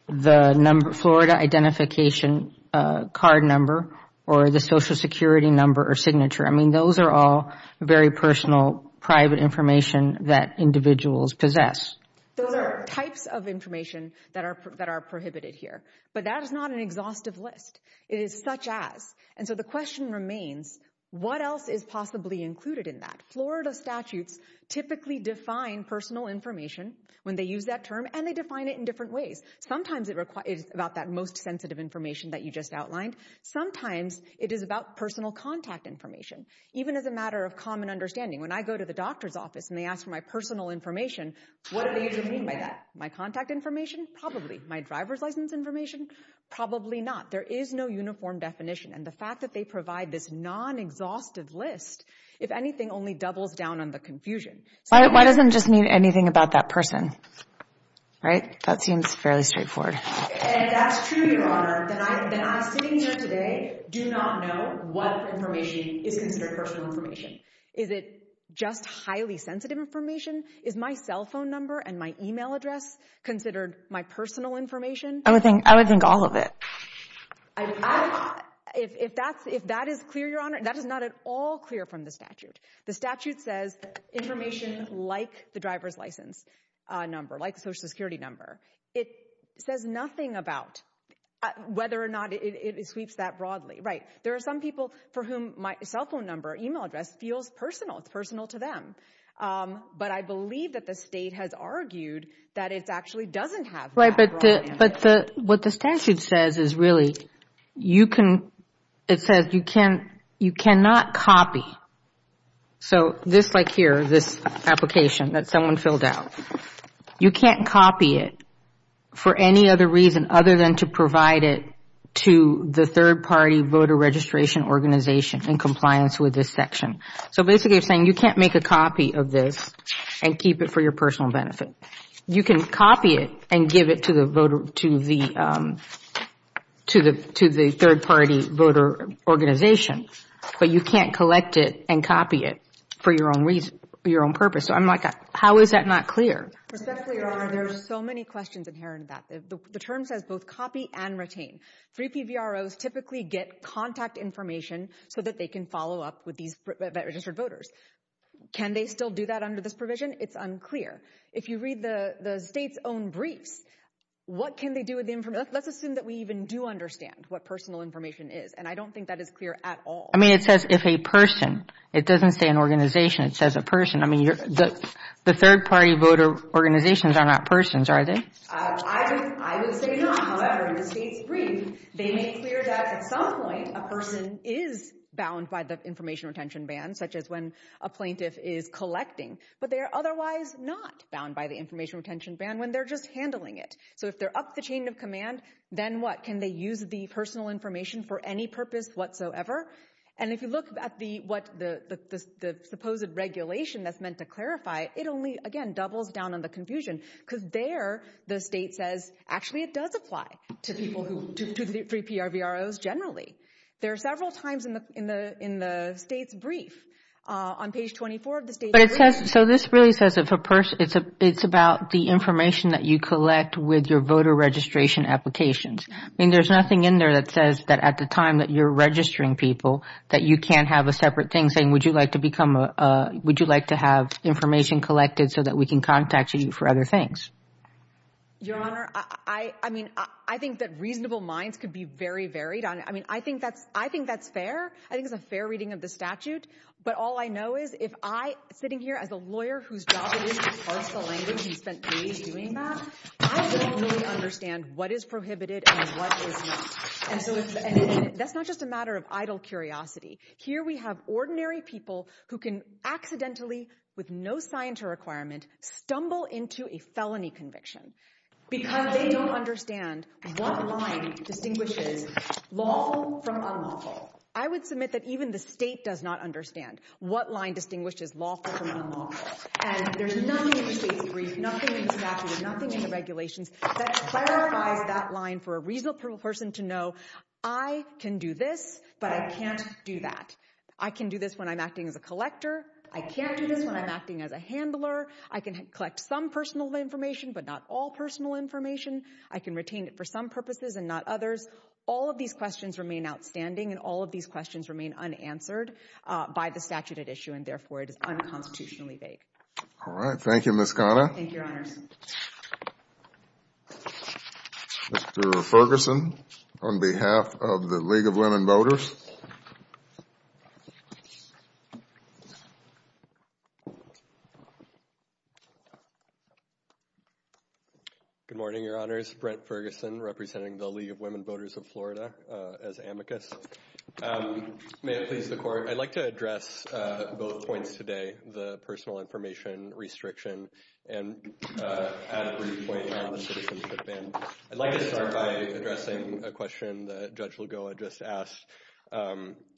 the Florida identification card number, or the social security number or signature? I mean, those are all very personal, private information that individuals possess. Those are types of information that are prohibited here, but that is not an exhaustive list. It is such as, and so the question remains, what else is possibly included in that? Florida statutes typically define personal information when they use that term, and they define it in different ways. Sometimes it is about that most sensitive information that you just outlined. Sometimes it is about personal contact information. Even as a matter of common understanding, when I go to the doctor's office and they ask for my personal information, what do they usually mean by that? My contact information? Probably. My driver's license information? Probably not. There is no uniform definition, and the fact that they provide this non-exhaustive list, if anything, only doubles down on the confusion. Why doesn't it just mean anything about that person? Right? That seems fairly straightforward. And if that's true, Your Honor, then I, sitting here today, do not know what information is considered personal information. Is it just highly sensitive information? Is my cell phone number and my email address considered my personal information? I would think all of it. If that is clear, Your Honor, that is not at all clear from the statute. The statute says information like the driver's license number, like the Social Security number. It says nothing about whether or not it sweeps that broadly. Right. There are some people for whom my cell phone number, email address, feels personal. It's personal to them. But I believe that the state has argued that it actually doesn't have that broadly. Right. But what the statute says is really you can, it says you cannot copy. So this, like here, this application that someone filled out, you can't copy it for any other reason other than to provide it to the third-party voter registration organization in compliance with this section. So basically you're saying you can't make a copy of this and keep it for your personal benefit. You can copy it and give it to the third-party voter organization, but you can't collect it and copy it for your own purpose. So I'm like, how is that not clear? There are so many questions inherent to that. The term says both copy and retain. 3PVROs typically get contact information so that they can follow up with these registered voters. Can they still do that under this provision? It's unclear. If you read the state's own briefs, what can they do with the information? Let's assume that we even do understand what personal information is, and I don't think that is clear at all. I mean, it says if a person. It doesn't say an organization. It says a person. I mean, the third-party voter organizations are not persons, are they? I would say not. However, in the state's brief, they make clear that at some point a person is bound by the information retention ban, such as when a plaintiff is collecting, but they are otherwise not bound by the information retention ban when they're just handling it. So if they're up the chain of command, then what? Can they use the personal information for any purpose whatsoever? And if you look at the supposed regulation that's meant to clarify, it only, again, doubles down on the confusion because there the state says, actually it does apply to 3PRVROs generally. There are several times in the state's brief. On page 24 of the state's brief. So this really says it's about the information that you collect with your voter registration applications. I mean, there's nothing in there that says that at the time that you're registering people that you can't have a separate thing saying, would you like to have information collected so that we can contact you for other things. Your Honor, I mean, I think that reasonable minds could be very varied on it. I mean, I think that's fair. I think it's a fair reading of the statute. But all I know is if I, sitting here as a lawyer, whose job it is to parse the language and spent days doing that, I don't really understand what is prohibited and what is not. And so that's not just a matter of idle curiosity. Here we have ordinary people who can accidentally, with no sign to requirement, stumble into a felony conviction because they don't understand what line distinguishes lawful from unlawful. I would submit that even the state does not understand what line distinguishes lawful from unlawful. And there's nothing in the state's brief, nothing in the statute, nothing in the regulations that clarifies that line for a reasonable person to know I can do this, but I can't do that. I can do this when I'm acting as a collector. I can't do this when I'm acting as a handler. I can collect some personal information, but not all personal information. I can retain it for some purposes and not others. All of these questions remain outstanding, and all of these questions remain unanswered by the statute at issue, and therefore it is unconstitutionally vague. All right. Thank you, Ms. Khanna. Thank you, Your Honors. Mr. Ferguson, on behalf of the League of Women Voters. Good morning, Your Honors. This is Brent Ferguson representing the League of Women Voters of Florida as amicus. May it please the Court, I'd like to address both points today, the personal information restriction and add a brief point on the citizenship ban. I'd like to start by addressing a question that Judge Lugoa just asked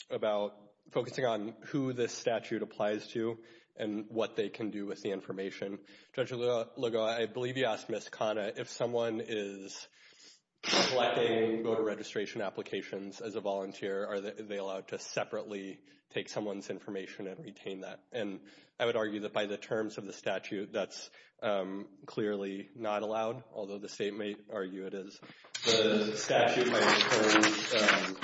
about focusing on who this statute applies to and what they can do with the information. Judge Lugoa, I believe you asked Ms. Khanna, if someone is collecting voter registration applications as a volunteer, are they allowed to separately take someone's information and retain that? And I would argue that by the terms of the statute, that's clearly not allowed, although the state may argue it is. The statute might include applying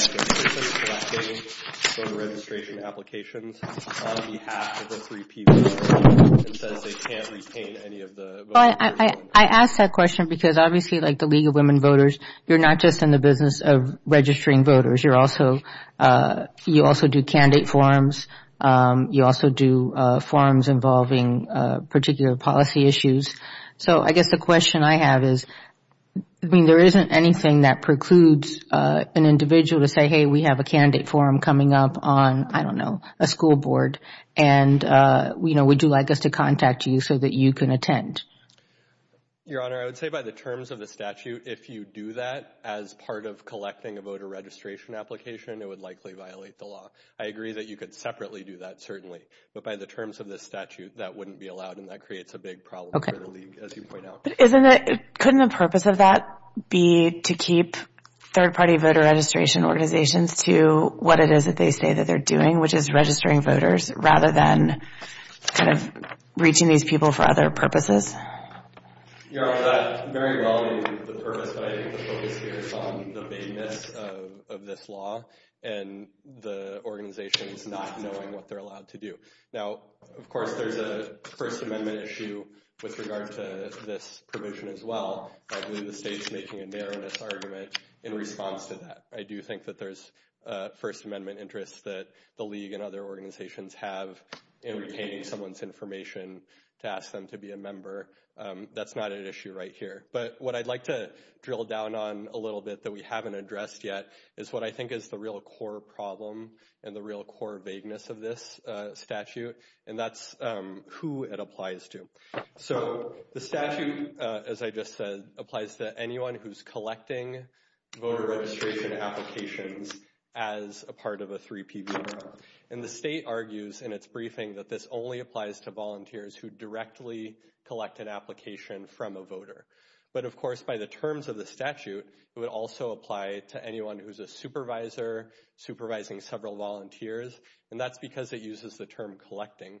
for persons collecting voter registration applications on behalf of the three people. It says they can't retain any of the voters. I ask that question because obviously, like the League of Women Voters, you're not just in the business of registering voters. You also do candidate forums. You also do forums involving particular policy issues. So I guess the question I have is, I mean, there isn't anything that precludes an individual to say, hey, we have a candidate forum coming up on, I don't know, a school board, and would you like us to contact you so that you can attend? Your Honor, I would say by the terms of the statute, if you do that as part of collecting a voter registration application, it would likely violate the law. I agree that you could separately do that, certainly. But by the terms of the statute, that wouldn't be allowed, and that creates a big problem for the League, as you point out. Couldn't the purpose of that be to keep third-party voter registration organizations to what it is that they say that they're doing, which is registering voters, rather than kind of reaching these people for other purposes? Your Honor, that very well may be the purpose, but I think the focus here is on the vagueness of this law and the organizations not knowing what they're allowed to do. Now, of course, there's a First Amendment issue with regard to this provision as well. I believe the state's making a narrowness argument in response to that. I do think that there's First Amendment interests that the League and other organizations have in retaining someone's information to ask them to be a member. That's not an issue right here. But what I'd like to drill down on a little bit that we haven't addressed yet is what I think is the real core problem and the real core vagueness of this statute, and that's who it applies to. So the statute, as I just said, applies to anyone who's collecting voter registration applications as a part of a 3PV program. And the state argues in its briefing that this only applies to volunteers who directly collect an application from a voter. But, of course, by the terms of the statute, it would also apply to anyone who's a supervisor supervising several volunteers, and that's because it uses the term collecting.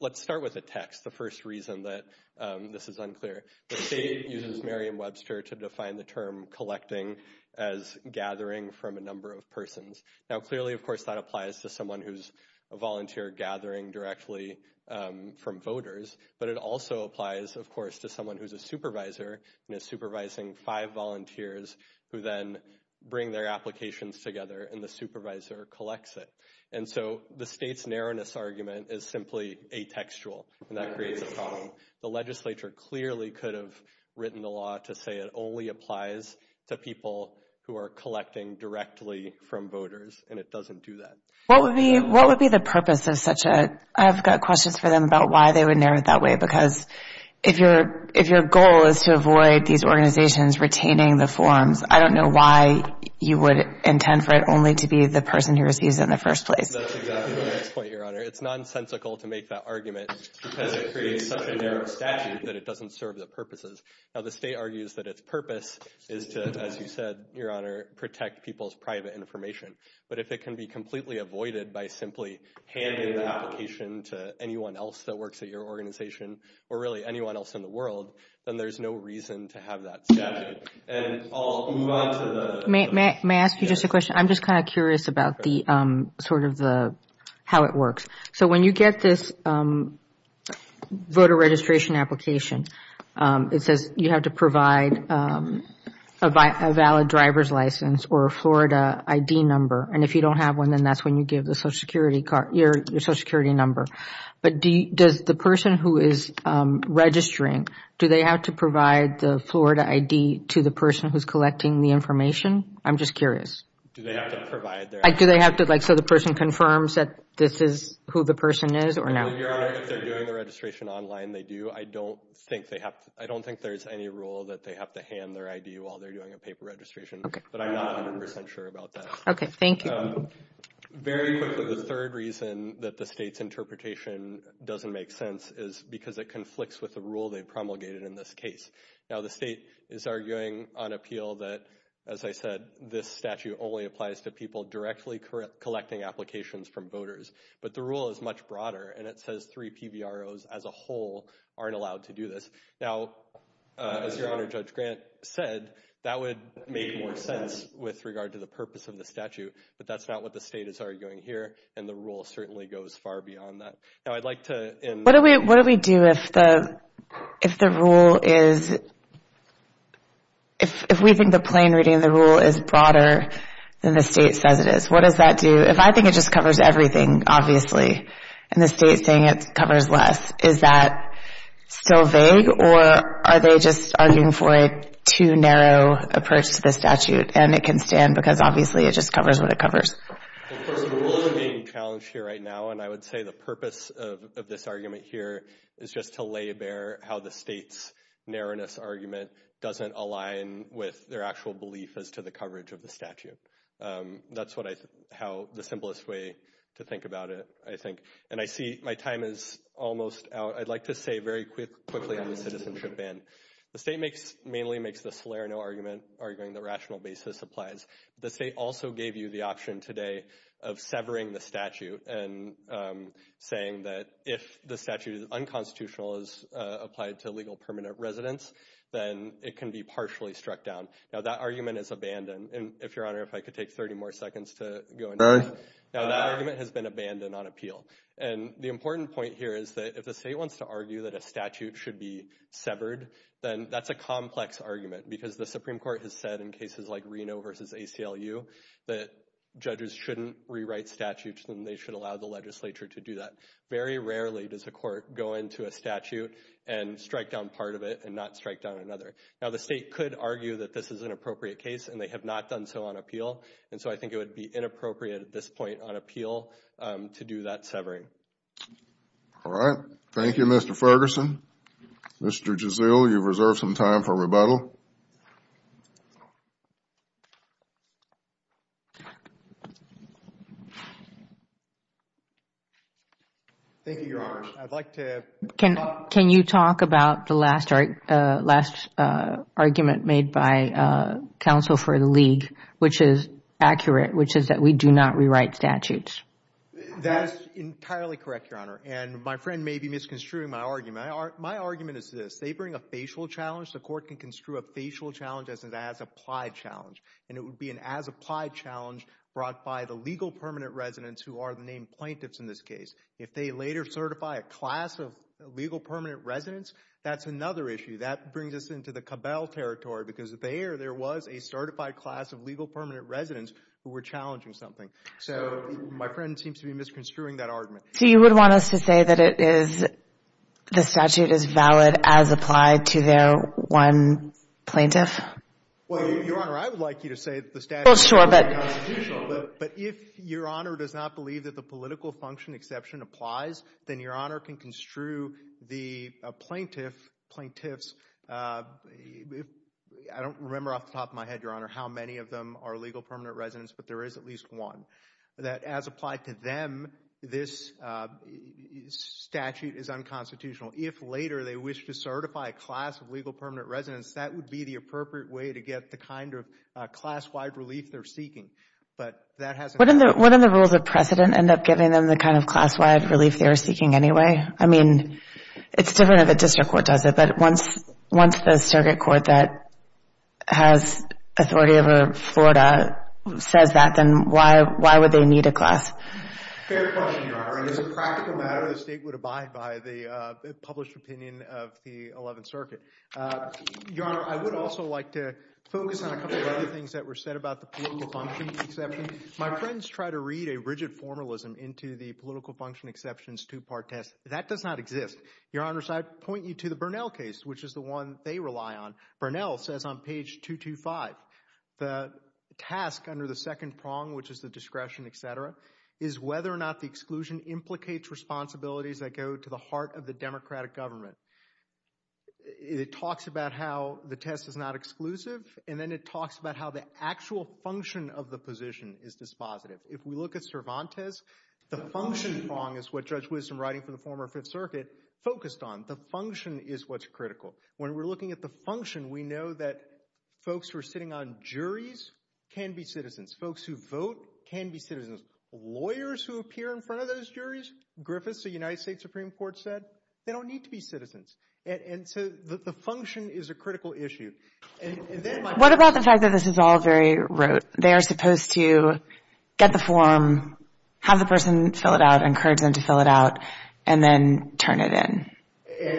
Let's start with the text, the first reason that this is unclear. The state uses Merriam-Webster to define the term collecting as gathering from a number of persons. Now, clearly, of course, that applies to someone who's a volunteer gathering directly from voters. But it also applies, of course, to someone who's a supervisor and is supervising five volunteers who then bring their applications together and the supervisor collects it. And so the state's narrowness argument is simply atextual, and that creates a problem. The legislature clearly could have written the law to say it only applies to people who are collecting directly from voters, and it doesn't do that. What would be the purpose of such a – I've got questions for them about why they would narrow it that way, because if your goal is to avoid these organizations retaining the forms, I don't know why you would intend for it only to be the person who receives it in the first place. That's exactly my next point, Your Honor. It's nonsensical to make that argument because it creates such a narrow statute that it doesn't serve the purposes. Now, the state argues that its purpose is to, as you said, Your Honor, protect people's private information. But if it can be completely avoided by simply handing the application to anyone else that works at your organization, or really anyone else in the world, then there's no reason to have that statute. May I ask you just a question? I'm just kind of curious about sort of how it works. So when you get this voter registration application, it says you have to provide a valid driver's license or a Florida ID number. And if you don't have one, then that's when you give your Social Security number. But does the person who is registering, do they have to provide the Florida ID to the person who is collecting the information? I'm just curious. Do they have to provide their ID? Do they have to, like, so the person confirms that this is who the person is or not? Your Honor, if they're doing the registration online, they do. I don't think there's any rule that they have to hand their ID while they're doing a paper registration. But I'm not 100 percent sure about that. Okay, thank you. Very quickly, the third reason that the state's interpretation doesn't make sense is because it conflicts with the rule they promulgated in this case. Now, the state is arguing on appeal that, as I said, this statute only applies to people directly collecting applications from voters. But the rule is much broader, and it says three PVROs as a whole aren't allowed to do this. Now, as Your Honor, Judge Grant said, that would make more sense with regard to the purpose of the statute. But that's not what the state is arguing here, and the rule certainly goes far beyond that. What do we do if we think the plain reading of the rule is broader than the state says it is? What does that do? If I think it just covers everything, obviously, and the state is saying it covers less, is that still vague, or are they just arguing for a too narrow approach to the statute? And it can stand because, obviously, it just covers what it covers. Of course, the rule is being challenged here right now, and I would say the purpose of this argument here is just to lay bare how the state's narrowness argument doesn't align with their actual belief as to the coverage of the statute. That's the simplest way to think about it, I think. And I see my time is almost out. I'd like to say very quickly on the citizenship ban. The state mainly makes the Salerno argument, arguing the rational basis applies. The state also gave you the option today of severing the statute, and saying that if the statute is unconstitutional, is applied to legal permanent residence, then it can be partially struck down. Now, that argument is abandoned. If Your Honor, if I could take 30 more seconds to go into it. Now, that argument has been abandoned on appeal. And the important point here is that if the state wants to argue that a statute should be severed, then that's a complex argument because the Supreme Court has said in cases like Reno versus ACLU that judges shouldn't rewrite statutes and they should allow the legislature to do that. Very rarely does a court go into a statute and strike down part of it and not strike down another. Now, the state could argue that this is an appropriate case, and they have not done so on appeal. And so I think it would be inappropriate at this point on appeal to do that severing. All right. Thank you, Mr. Ferguson. Mr. Giselle, you've reserved some time for rebuttal. Thank you, Your Honor. I'd like to talk. Can you talk about the last argument made by counsel for the league, which is accurate, which is that we do not rewrite statutes? That is entirely correct, Your Honor. And my friend may be misconstruing my argument. My argument is this. They bring a facial challenge. The court can construe a facial challenge as an as-applied challenge, and it would be an as-applied challenge brought by the legal permanent residents who are the named plaintiffs in this case. If they later certify a class of legal permanent residents, that's another issue. That brings us into the Cabel territory because there, there was a certified class of legal permanent residents who were challenging something. So my friend seems to be misconstruing that argument. So you would want us to say that it is, the statute is valid as applied to their one plaintiff? Well, Your Honor, I would like you to say that the statute is not constitutional. But if Your Honor does not believe that the political function exception applies, then Your Honor can construe the plaintiff, plaintiffs. I don't remember off the top of my head, Your Honor, how many of them are legal permanent residents, but there is at least one. That as applied to them, this statute is unconstitutional. If later they wish to certify a class of legal permanent residents, that would be the appropriate way to get the kind of class-wide relief they're seeking. But that hasn't happened. Wouldn't the rules of precedent end up giving them the kind of class-wide relief they were seeking anyway? I mean, it's different if a district court does it. But once the circuit court that has authority over Florida says that, then why would they need a class? Fair question, Your Honor. And as a practical matter, the State would abide by the published opinion of the 11th Circuit. Your Honor, I would also like to focus on a couple of other things that were said about the political function exception. My friends try to read a rigid formalism into the political function exception's two-part test. That does not exist. Your Honors, I'd point you to the Burnell case, which is the one they rely on. Burnell says on page 225, the task under the second prong, which is the discretion, et cetera, is whether or not the exclusion implicates responsibilities that go to the heart of the democratic government. It talks about how the test is not exclusive, and then it talks about how the actual function of the position is dispositive. If we look at Cervantes, the function prong is what Judge Wisdom, writing for the former Fifth Circuit, focused on. The function is what's critical. When we're looking at the function, we know that folks who are sitting on juries can be citizens. Folks who vote can be citizens. Lawyers who appear in front of those juries, Griffiths, the United States Supreme Court said, they don't need to be citizens. So the function is a critical issue. What about the fact that this is all very rote? They are supposed to get the form, have the person fill it out, encourage them to fill it out, and then turn it in.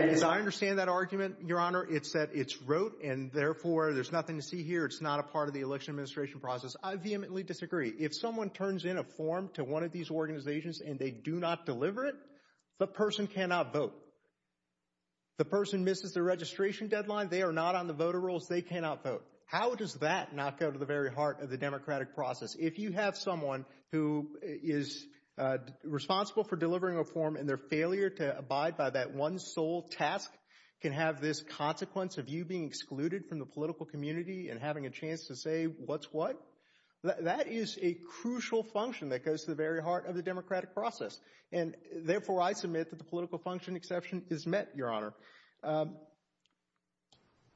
As I understand that argument, Your Honor, it's that it's rote, and therefore there's nothing to see here. It's not a part of the election administration process. I vehemently disagree. If someone turns in a form to one of these organizations, and they do not deliver it, the person cannot vote. The person misses the registration deadline. They are not on the voter rolls. They cannot vote. How does that not go to the very heart of the democratic process? If you have someone who is responsible for delivering a form, and their failure to abide by that one sole task can have this consequence of you being excluded from the political community and having a chance to say what's what, that is a crucial function that goes to the very heart of the democratic process. Therefore, I submit that the political function exception is met, Your Honor.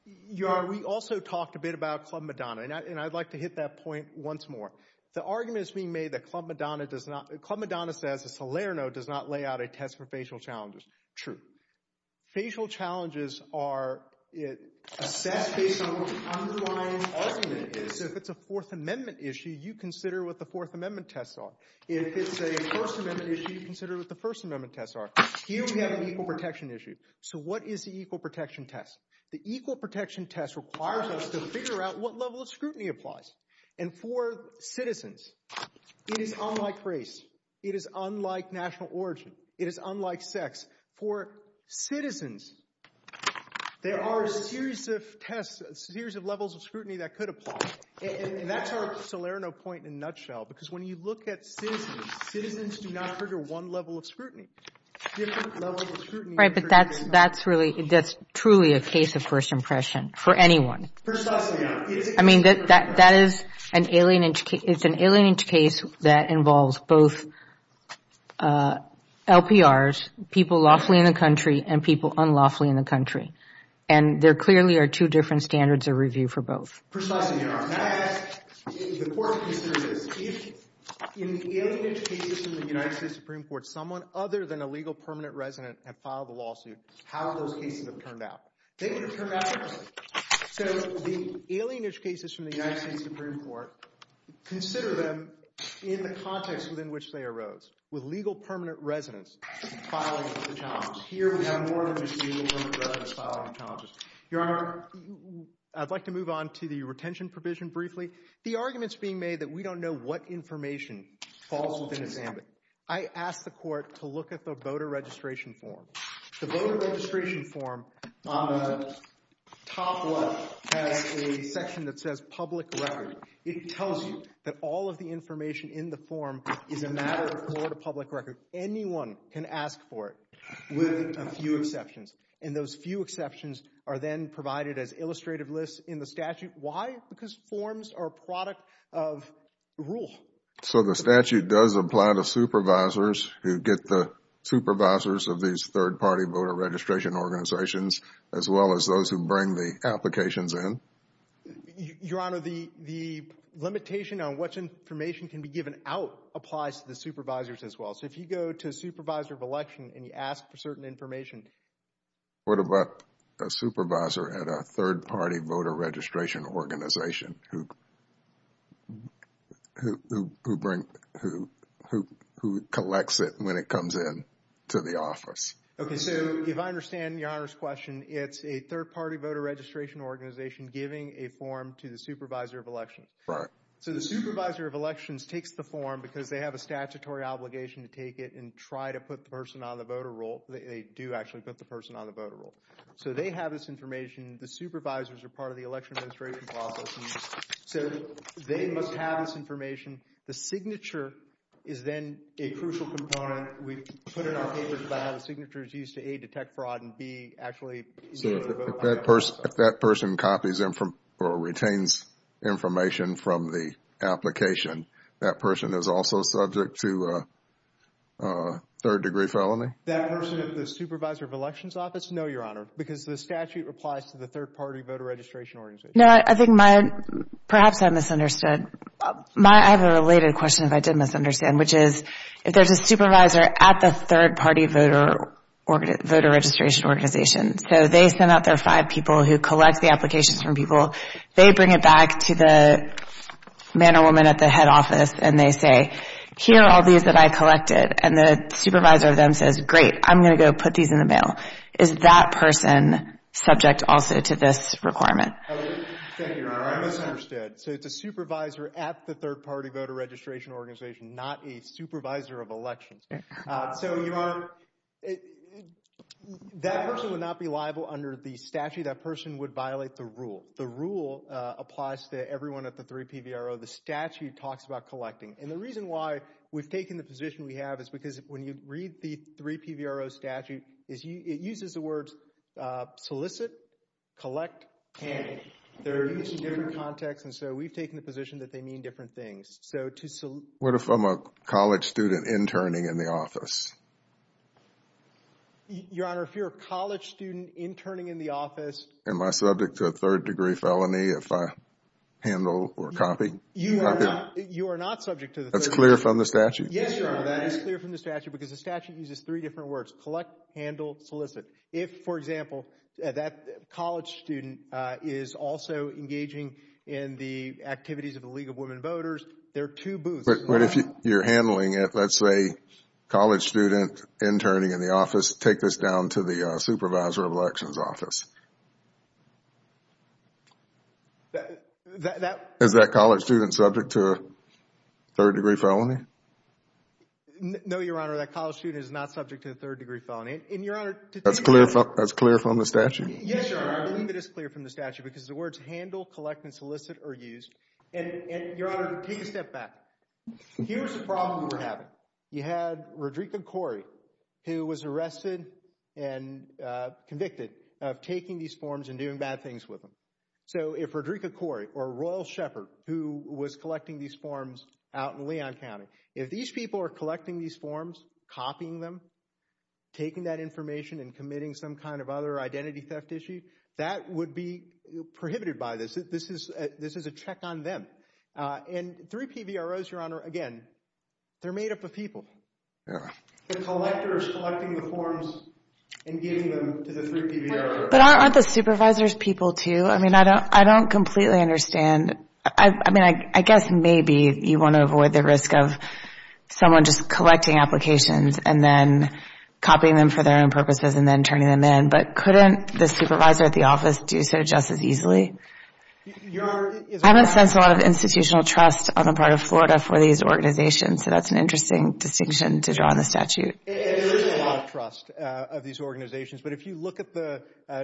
Your Honor, we also talked a bit about Club Madonna, and I'd like to hit that point once more. The argument is being made that Club Madonna does not – Club Madonna says that Salerno does not lay out a test for facial challenges. True. Facial challenges are assessed based on what the underlying argument is. So if it's a Fourth Amendment issue, you consider what the Fourth Amendment tests are. If it's a First Amendment issue, you consider what the First Amendment tests are. Here we have an equal protection issue. So what is the equal protection test? The equal protection test requires us to figure out what level of scrutiny applies. And for citizens, it is unlike race. It is unlike national origin. It is unlike sex. For citizens, there are a series of tests, a series of levels of scrutiny that could apply. And that's our Salerno point in a nutshell, because when you look at citizens, citizens do not trigger one level of scrutiny. Different levels of scrutiny – Right, but that's really – that's truly a case of first impression for anyone. First impression, yeah. I mean, that is an alien – it's an alien case that involves both LPRs, people lawfully in the country, and people unlawfully in the country. And there clearly are two different standards of review for both. First impression, yeah. The court considers this. If in the alien education of the United States Supreme Court, someone other than a legal permanent resident had filed a lawsuit, how would those cases have turned out? They would have turned out differently. So the alienage cases from the United States Supreme Court, consider them in the context within which they arose, with legal permanent residents filing the challenges. Here we have more than just legal permanent residents filing the challenges. Your Honor, I'd like to move on to the retention provision briefly. The argument is being made that we don't know what information falls within its ambit. I asked the court to look at the voter registration form. The voter registration form on the top left has a section that says public record. It tells you that all of the information in the form is a matter of Florida public record. Anyone can ask for it with a few exceptions. And those few exceptions are then provided as illustrative lists in the statute. Why? Because forms are a product of rule. So the statute does apply to supervisors who get the supervisors of these third party voter registration organizations, as well as those who bring the applications in? Your Honor, the limitation on which information can be given out applies to the supervisors as well. So if you go to a supervisor of election and you ask for certain information. What about a supervisor at a third party voter registration organization who collects it when it comes in to the office? Okay, so if I understand Your Honor's question, it's a third party voter registration organization giving a form to the supervisor of election. Right. So the supervisor of elections takes the form because they have a statutory obligation to take it and try to put the person on the voter roll. They do actually put the person on the voter roll. So they have this information. The supervisors are part of the election administration process. So they must have this information. The signature is then a crucial component. We put in our papers about how the signature is used to A, detect fraud, and B, actually. So if that person copies or retains information from the application, that person is also subject to third degree felony? That person at the supervisor of elections office? No, Your Honor, because the statute applies to the third party voter registration organization. No, I think perhaps I misunderstood. I have a related question that I did misunderstand, which is if there's a supervisor at the third party voter registration organization, so they send out their five people who collect the applications from people. They bring it back to the man or woman at the head office and they say, here are all these that I collected. And the supervisor of them says, great, I'm going to go put these in the mail. Is that person subject also to this requirement? Thank you, Your Honor. I misunderstood. So it's a supervisor at the third party voter registration organization, not a supervisor of elections. So, Your Honor, that person would not be liable under the statute. That person would violate the rule. The rule applies to everyone at the 3PVRO. The statute talks about collecting. And the reason why we've taken the position we have is because when you read the 3PVRO statute, it uses the words solicit, collect, candid. They're used in different contexts. And so we've taken the position that they mean different things. What if I'm a college student interning in the office? Your Honor, if you're a college student interning in the office. Am I subject to a third degree felony if I handle or copy? You are not subject to the third degree. That's clear from the statute? Yes, Your Honor, that is clear from the statute because the statute uses three different words. Collect, handle, solicit. If, for example, that college student is also engaging in the activities of the League of Women Voters, there are two booths. But if you're handling it, let's say college student interning in the office, take this down to the supervisor of elections office. Is that college student subject to a third degree felony? No, Your Honor, that college student is not subject to a third degree felony. That's clear from the statute? Yes, Your Honor, I believe it is clear from the statute because the words handle, collect, and solicit are used. And, Your Honor, take a step back. Here's the problem we're having. You had Rodrika Corey who was arrested and convicted of taking these forms and doing bad things with them. So if Rodrika Corey or Royal Shepherd who was collecting these forms out in Leon County, if these people are collecting these forms, copying them, taking that information, and committing some kind of other identity theft issue, that would be prohibited by this. This is a check on them. And three PVROs, Your Honor, again, they're made up of people. The collector is collecting the forms and giving them to the three PVROs. But aren't the supervisors people too? I mean, I don't completely understand. I mean, I guess maybe you want to avoid the risk of someone just collecting applications and then copying them for their own purposes and then turning them in. But couldn't the supervisor at the office do so just as easily? I haven't sensed a lot of institutional trust on the part of Florida for these organizations, so that's an interesting distinction to draw on the statute. There is a lot of trust of these organizations. But if you look at the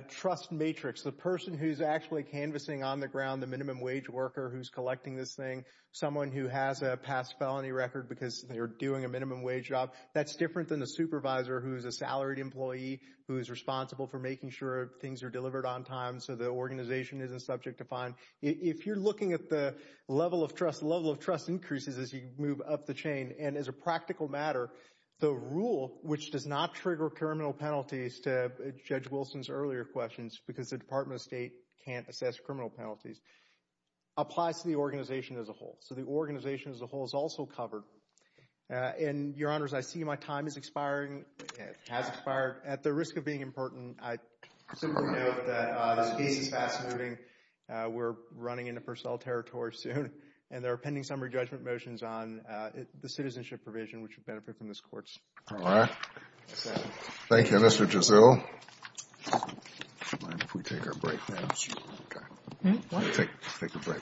trust matrix, the person who's actually canvassing on the ground, the minimum wage worker who's collecting this thing, someone who has a past felony record because they're doing a minimum wage job, that's different than a supervisor who is a salaried employee who is responsible for making sure things are delivered on time so the organization isn't subject to fine. If you're looking at the level of trust, the level of trust increases as you move up the chain. And as a practical matter, the rule which does not trigger criminal penalties, to Judge Wilson's earlier questions, because the Department of State can't assess criminal penalties, applies to the organization as a whole. So the organization as a whole is also covered. And, Your Honors, I see my time is expiring. It has expired. At the risk of being important, I simply note that this case is fast-moving. We're running into first of all territory soon. And there are pending summary judgment motions on the citizenship provision, which would benefit from this Court's approval. All right. Thank you, Mr. Giselle. Do you mind if we take our break? Thank you. Okay. Take a break.